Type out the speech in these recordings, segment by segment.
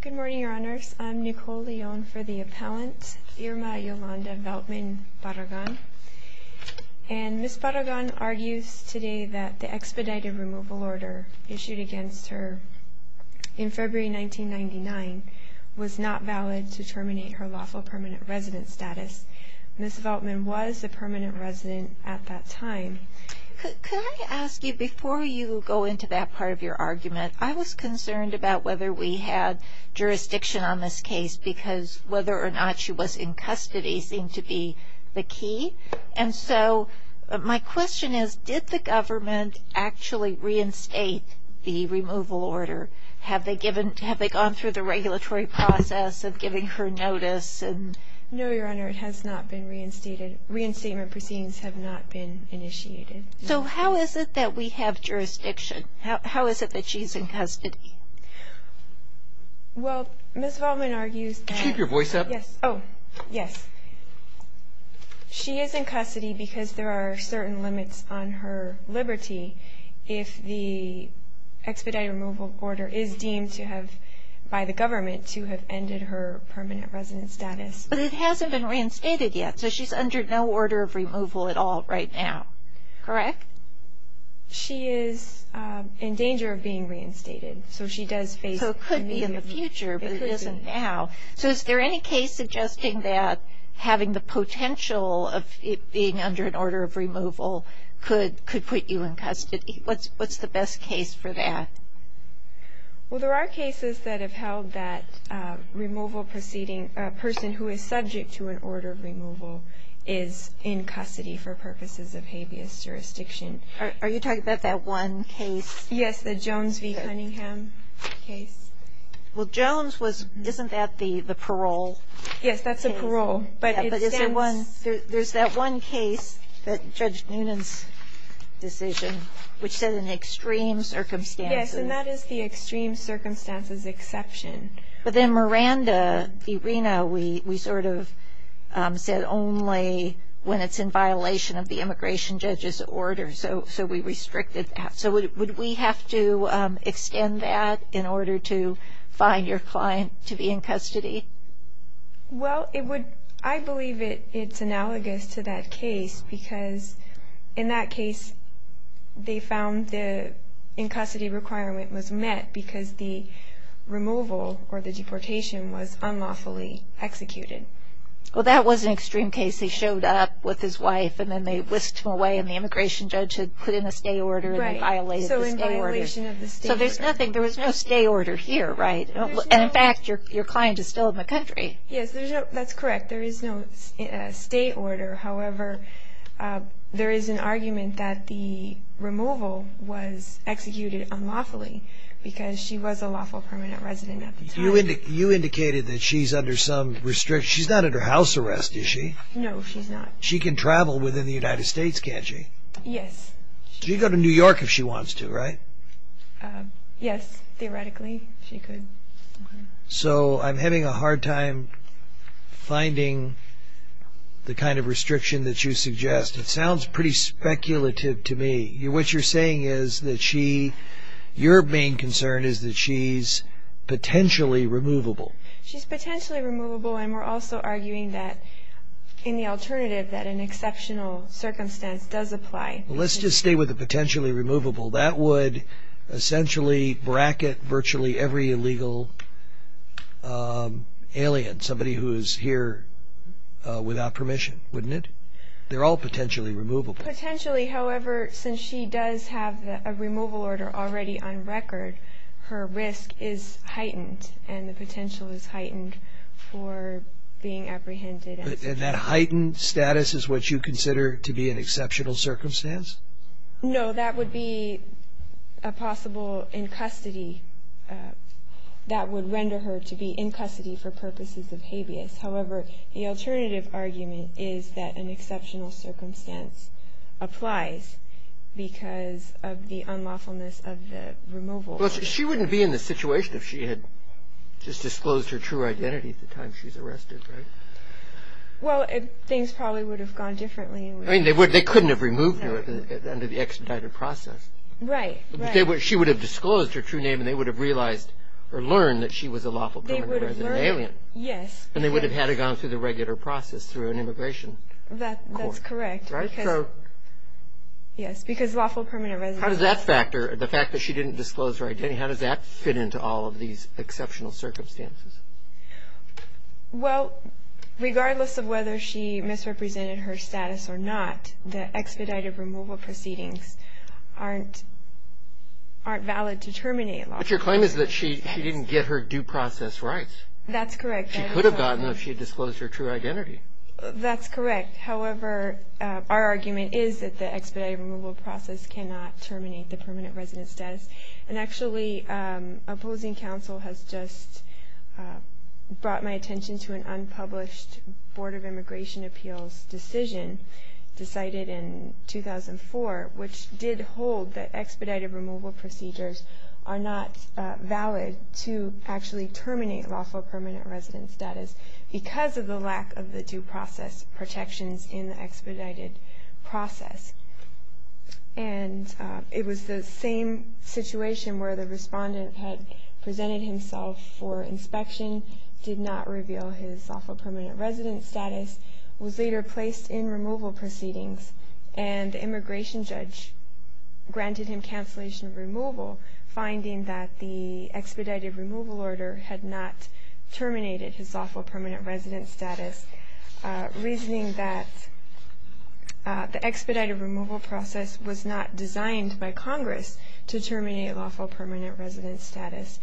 Good morning, Your Honors. I'm Nicole Leone for the Appellant, Irma Yolanda Veltmann-Barragan. And Ms. Barragan argues today that the expedited removal order issued against her in February 1999 was not valid to terminate her lawful permanent resident status. Ms. Veltmann was a permanent resident at that time. Could I ask you, before you go into that part of your argument, I was concerned about whether we had jurisdiction on this case because whether or not she was in custody seemed to be the key. And so my question is, did the government actually reinstate the removal order? Have they gone through the regulatory process of giving her notice? No, Your Honor, it has not been reinstated. Reinstatement proceedings have not been initiated. So how is it that we have jurisdiction? How is it that she's in custody? Well, Ms. Veltmann argues that... Keep your voice up. Yes. Oh, yes. She is in custody because there are certain limits on her liberty if the expedited removal order is deemed to have, by the government, to have ended her permanent resident status. But it hasn't been reinstated yet, so she's under no order of removal at all right now. Correct. She is in danger of being reinstated, so she does face immediate... So it could be in the future, but it isn't now. So is there any case suggesting that having the potential of it being under an order of removal could put you in custody? What's the best case for that? Well, there are cases that have held that removal proceeding, a person who is subject to an order of removal, is in custody for purposes of habeas jurisdiction. Are you talking about that one case? Yes, the Jones v. Cunningham case. Well, Jones was, isn't that the parole case? Yes, that's a parole. But is there one, there's that one case, Judge Noonan's decision, which said in extreme circumstances... Yes, and that is the extreme circumstances exception. But then Miranda v. Reno, we sort of said only when it's in violation of the immigration judge's order, so we restricted that. So would we have to extend that in order to find your client to be in custody? Well, I believe it's analogous to that case, because in that case they found the in-custody requirement was met because the removal or the deportation was unlawfully executed. Well, that was an extreme case. He showed up with his wife and then they whisked him away and the immigration judge had put in a stay order and violated the stay order. Right, so in violation of the stay order. So there's nothing, there was no stay order here, right? And in fact, your client is still in the country. Yes, that's correct, there is no stay order. However, there is an argument that the removal was executed unlawfully because she was a lawful permanent resident at the time. You indicated that she's under some restriction. She's not under house arrest, is she? No, she's not. She can travel within the United States, can't she? Yes. She can go to New York if she wants to, right? Yes, theoretically she could. So I'm having a hard time finding the kind of restriction that you suggest. It sounds pretty speculative to me. What you're saying is that she, your main concern is that she's potentially removable. She's potentially removable and we're also arguing that in the alternative that an exceptional circumstance does apply. Let's just stay with the potentially removable. That would essentially bracket virtually every illegal alien, somebody who is here without permission, wouldn't it? They're all potentially removable. Potentially, however, since she does have a removal order already on record, her risk is heightened and the potential is heightened for being apprehended. And that heightened status is what you consider to be an exceptional circumstance? No, that would be a possible in custody. That would render her to be in custody for purposes of habeas. However, the alternative argument is that an exceptional circumstance applies because of the unlawfulness of the removal. She wouldn't be in this situation if she had just disclosed her true identity at the time she's arrested, right? Well, things probably would have gone differently. They couldn't have removed her under the expedited process. Right. She would have disclosed her true name and they would have realized or learned that she was a lawful permanent resident alien. Yes. And they would have had her gone through the regular process through an immigration court. That's correct. Yes, because lawful permanent residents. How does that factor, the fact that she didn't disclose her identity, how does that fit into all of these exceptional circumstances? Well, regardless of whether she misrepresented her status or not, the expedited removal proceedings aren't valid to terminate lawful permanent residents. But your claim is that she didn't get her due process rights. That's correct. She could have gotten them if she had disclosed her true identity. That's correct. However, our argument is that the expedited removal process cannot terminate the permanent resident status. And actually, opposing counsel has just brought my attention to an unpublished Board of Immigration Appeals decision decided in 2004, which did hold that expedited removal procedures are not valid to actually terminate lawful permanent resident status because of the lack of the due process protections in the expedited process. And it was the same situation where the respondent had presented himself for inspection, did not reveal his lawful permanent resident status, was later placed in removal proceedings, and the immigration judge granted him cancellation of removal, finding that the expedited removal order had not terminated his lawful permanent resident status, reasoning that the expedited removal process was not designed by Congress to terminate lawful permanent resident status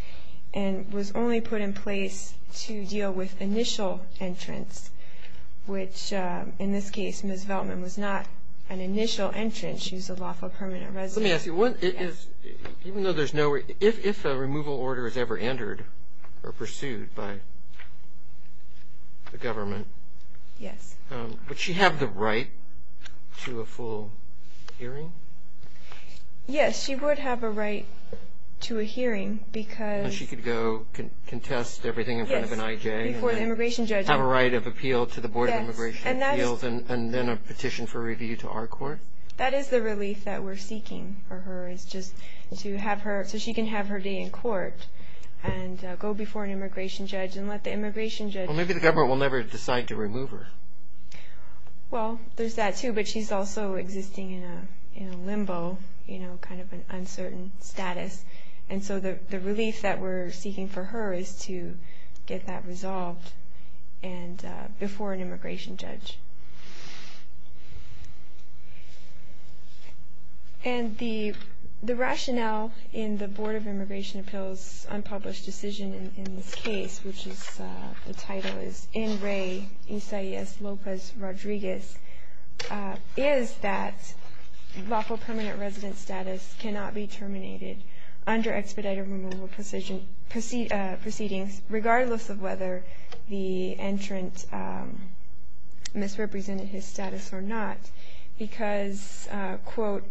and was only put in place to deal with initial entrants, which, in this case, Ms. Veltman was not an initial entrant. She was a lawful permanent resident. Let me ask you. Even though there's no – if a removal order is ever entered or pursued by the government, would she have the right to a full hearing? Yes, she would have a right to a hearing because – And she could go contest everything in front of an I.J.? Yes, before the immigration judge. Have a right of appeal to the Board of Immigration Appeals and then a petition for review to our court? That is the relief that we're seeking for her is just to have her – so she can have her day in court and go before an immigration judge and let the immigration judge – Well, maybe the government will never decide to remove her. Well, there's that, too, but she's also existing in a limbo, kind of an uncertain status, and so the relief that we're seeking for her is to get that resolved before an immigration judge. And the rationale in the Board of Immigration Appeals unpublished decision in this case, which is – the title is N. Ray Isaias Lopez Rodriguez, is that lawful permanent resident status cannot be terminated under expedited removal proceedings, regardless of whether the entrant misrepresented his status or not, because, quote,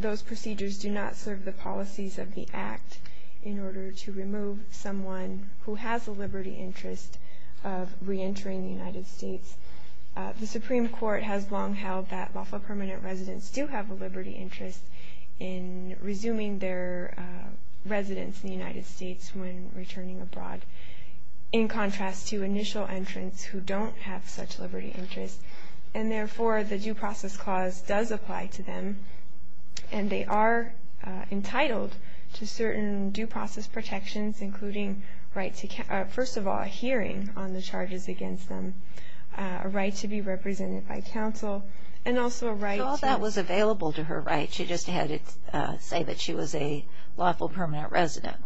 those procedures do not serve the policies of the Act in order to remove someone who has a liberty interest of reentering the United States. The Supreme Court has long held that lawful permanent residents do have a liberty interest in resuming their residence in the United States when returning abroad, in contrast to initial entrants who don't have such a liberty interest, and therefore the Due Process Clause does apply to them, and they are entitled to certain due process protections, including, first of all, a hearing on the charges against them, a right to be represented by counsel, and also a right to – So all that was available to her, right? She just had it say that she was a lawful permanent resident.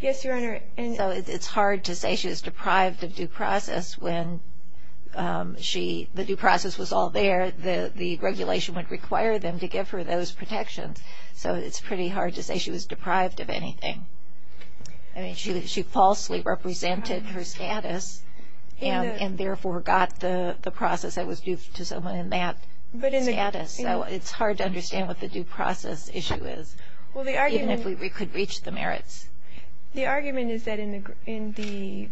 Yes, Your Honor. So it's hard to say she was deprived of due process when she – the due process was all there. The regulation would require them to give her those protections, so it's pretty hard to say she was deprived of anything. I mean, she falsely represented her status and therefore got the process that was due to someone in that status. So it's hard to understand what the due process issue is, even if we could reach the merits. The argument is that in the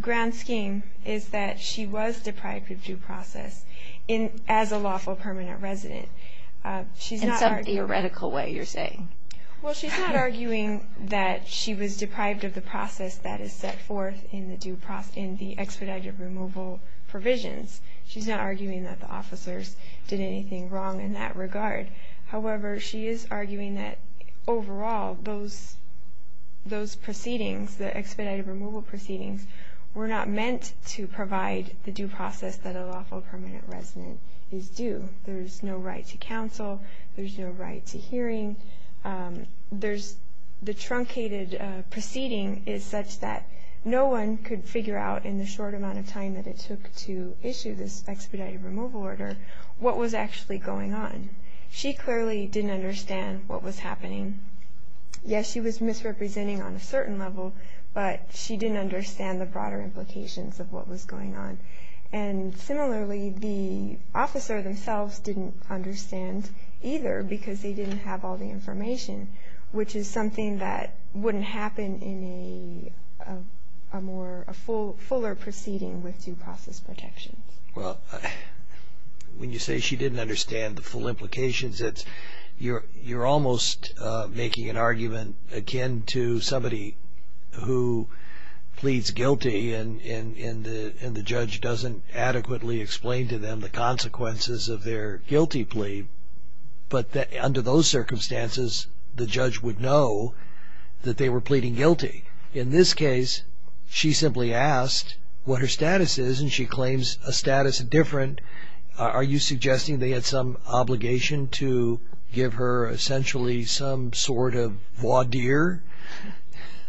grand scheme is that she was deprived of due process as a lawful permanent resident. In some theoretical way, you're saying. Well, she's not arguing that she was deprived of the process that is set forth in the expedited removal provisions. She's not arguing that the officers did anything wrong in that regard. However, she is arguing that, overall, those proceedings, the expedited removal proceedings, were not meant to provide the due process that a lawful permanent resident is due. There's no right to counsel. There's no right to hearing. There's – the truncated proceeding is such that no one could figure out in the short amount of time that it took to issue this expedited removal order what was actually going on. She clearly didn't understand what was happening. Yes, she was misrepresenting on a certain level, but she didn't understand the broader implications of what was going on. And similarly, the officer themselves didn't understand either because they didn't have all the information, which is something that wouldn't happen in a more – a fuller proceeding with due process protections. Well, when you say she didn't understand the full implications, you're almost making an argument akin to somebody who pleads guilty and the judge doesn't adequately explain to them the consequences of their guilty plea. But under those circumstances, the judge would know that they were pleading guilty. In this case, she simply asked what her status is and she claims a status indifferent. Are you suggesting they had some obligation to give her essentially some sort of voir dire?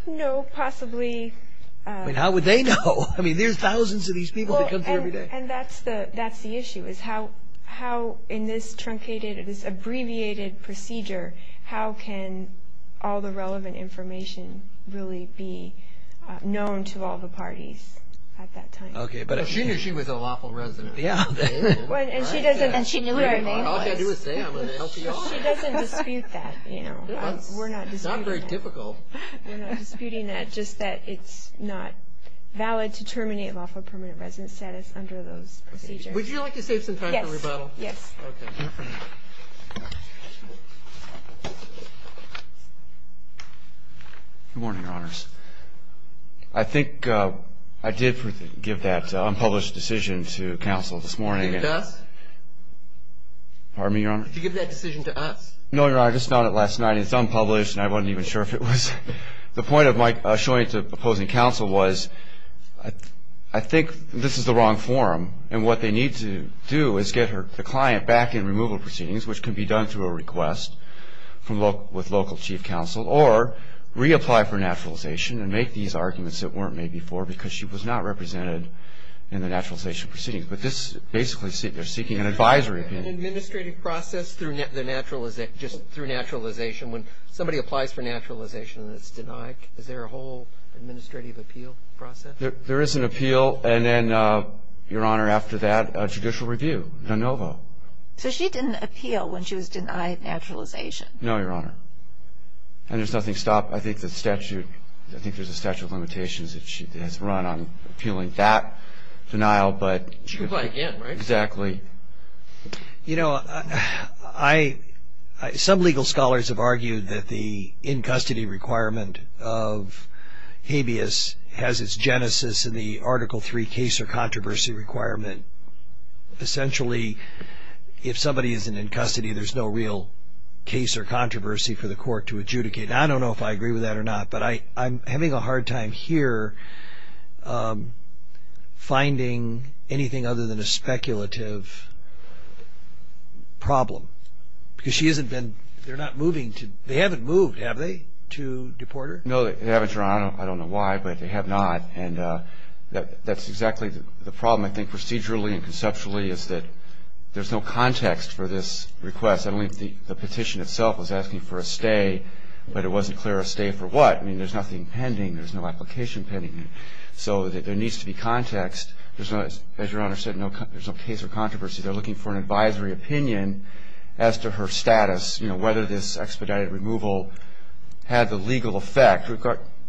No, possibly. I mean, how would they know? I mean, there's thousands of these people that come through every day. And that's the issue, is how in this truncated, this abbreviated procedure, how can all the relevant information really be known to all the parties at that time? She knew she was a lawful resident. And she knew her name was – All I've got to do is say it, I'm going to help you out. She doesn't dispute that. It's not very difficult. We're not disputing that, just that it's not valid to terminate a lawful permanent resident status under those procedures. Would you like to save some time for rebuttal? Yes. Okay. Good morning, Your Honors. I think I did give that unpublished decision to counsel this morning. Did you give it to us? Pardon me, Your Honor? Did you give that decision to us? No, Your Honor. I just found it last night and it's unpublished and I wasn't even sure if it was. The point of my showing it to opposing counsel was I think this is the wrong forum and what they need to do is get the client back in removal proceedings, which can be done through a request with local chief counsel, or reapply for naturalization and make these arguments that weren't made before because she was not represented in the naturalization proceedings. But this is basically seeking an advisory opinion. An administrative process through naturalization. When somebody applies for naturalization and it's denied, is there a whole administrative appeal process? There is an appeal and then, Your Honor, after that, a judicial review, de novo. So she didn't appeal when she was denied naturalization? No, Your Honor. And there's nothing stopped. I think there's a statute of limitations that she has run on appealing that denial. She could apply again, right? Exactly. You know, some legal scholars have argued that the in-custody requirement of habeas has its genesis in the Article III case or controversy requirement. Essentially, if somebody isn't in custody, there's no real case or controversy for the court to adjudicate. I don't know if I agree with that or not, but I'm having a hard time here finding anything other than a speculative problem. Because she hasn't been, they're not moving to, they haven't moved, have they, to deport her? No, they haven't, Your Honor. I don't know why, but they have not. And that's exactly the problem, I think, procedurally and conceptually, is that there's no context for this request. I don't think the petition itself was asking for a stay, but it wasn't clear a stay for what. I mean, there's nothing pending. There's no application pending. So there needs to be context. As Your Honor said, there's no case or controversy. They're looking for an advisory opinion as to her status, you know, whether this expedited removal had the legal effect.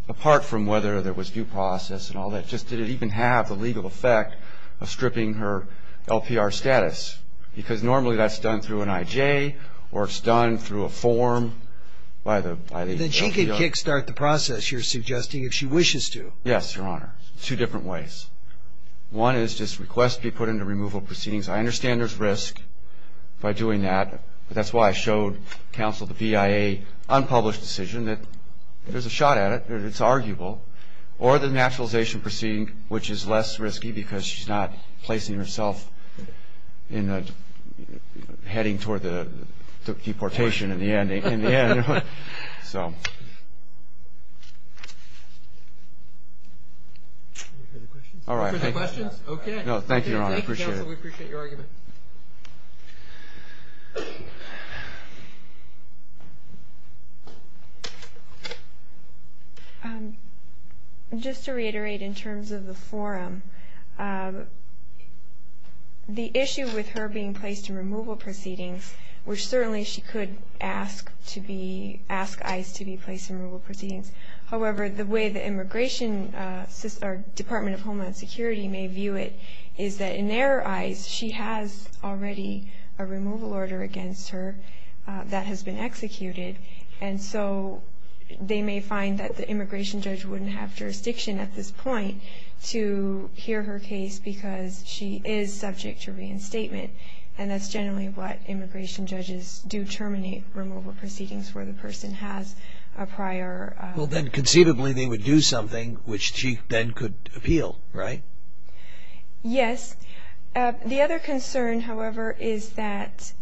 Apart from whether there was due process and all that, just did it even have the legal effect of stripping her LPR status? Yes, because normally that's done through an IJ or it's done through a form by the LPR. Then she could kick-start the process, you're suggesting, if she wishes to. Yes, Your Honor, two different ways. One is just requests be put into removal proceedings. I understand there's risk by doing that, but that's why I showed counsel the BIA unpublished decision that there's a shot at it, that it's arguable, or the naturalization proceeding, which is less risky because she's not placing herself heading toward the deportation in the end. So. Any further questions? No, thank you, Your Honor, I appreciate it. Counsel, we appreciate your argument. Thank you. Just to reiterate in terms of the forum, the issue with her being placed in removal proceedings, which certainly she could ask ICE to be placed in removal proceedings. However, the way the Immigration Department of Homeland Security may view it, is that in their eyes she has already a removal order against her that has been executed. And so they may find that the immigration judge wouldn't have jurisdiction at this point to hear her case because she is subject to reinstatement. And that's generally what immigration judges do, terminate removal proceedings where the person has a prior. Well, then conceivably they would do something which she then could appeal, right? Yes. The other concern, however, is that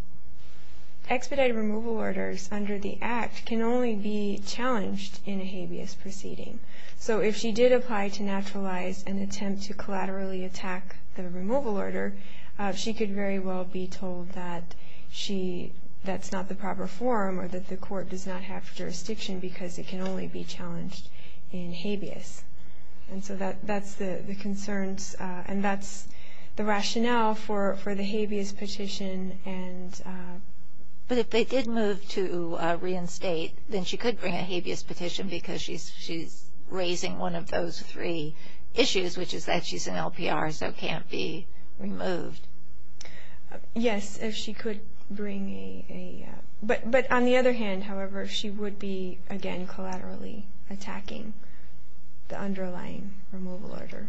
expedited removal orders under the Act can only be challenged in a habeas proceeding. So if she did apply to naturalize an attempt to collaterally attack the removal order, she could very well be told that that's not the proper forum or that the court does not have jurisdiction because it can only be challenged in habeas. And so that's the concerns, and that's the rationale for the habeas petition. But if they did move to reinstate, then she could bring a habeas petition because she's raising one of those three issues, which is that she's an LPR so can't be removed. Yes, if she could bring a... But on the other hand, however, she would be, again, collaterally attacking the underlying removal order.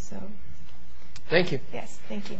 So... Thank you. Yes, thank you.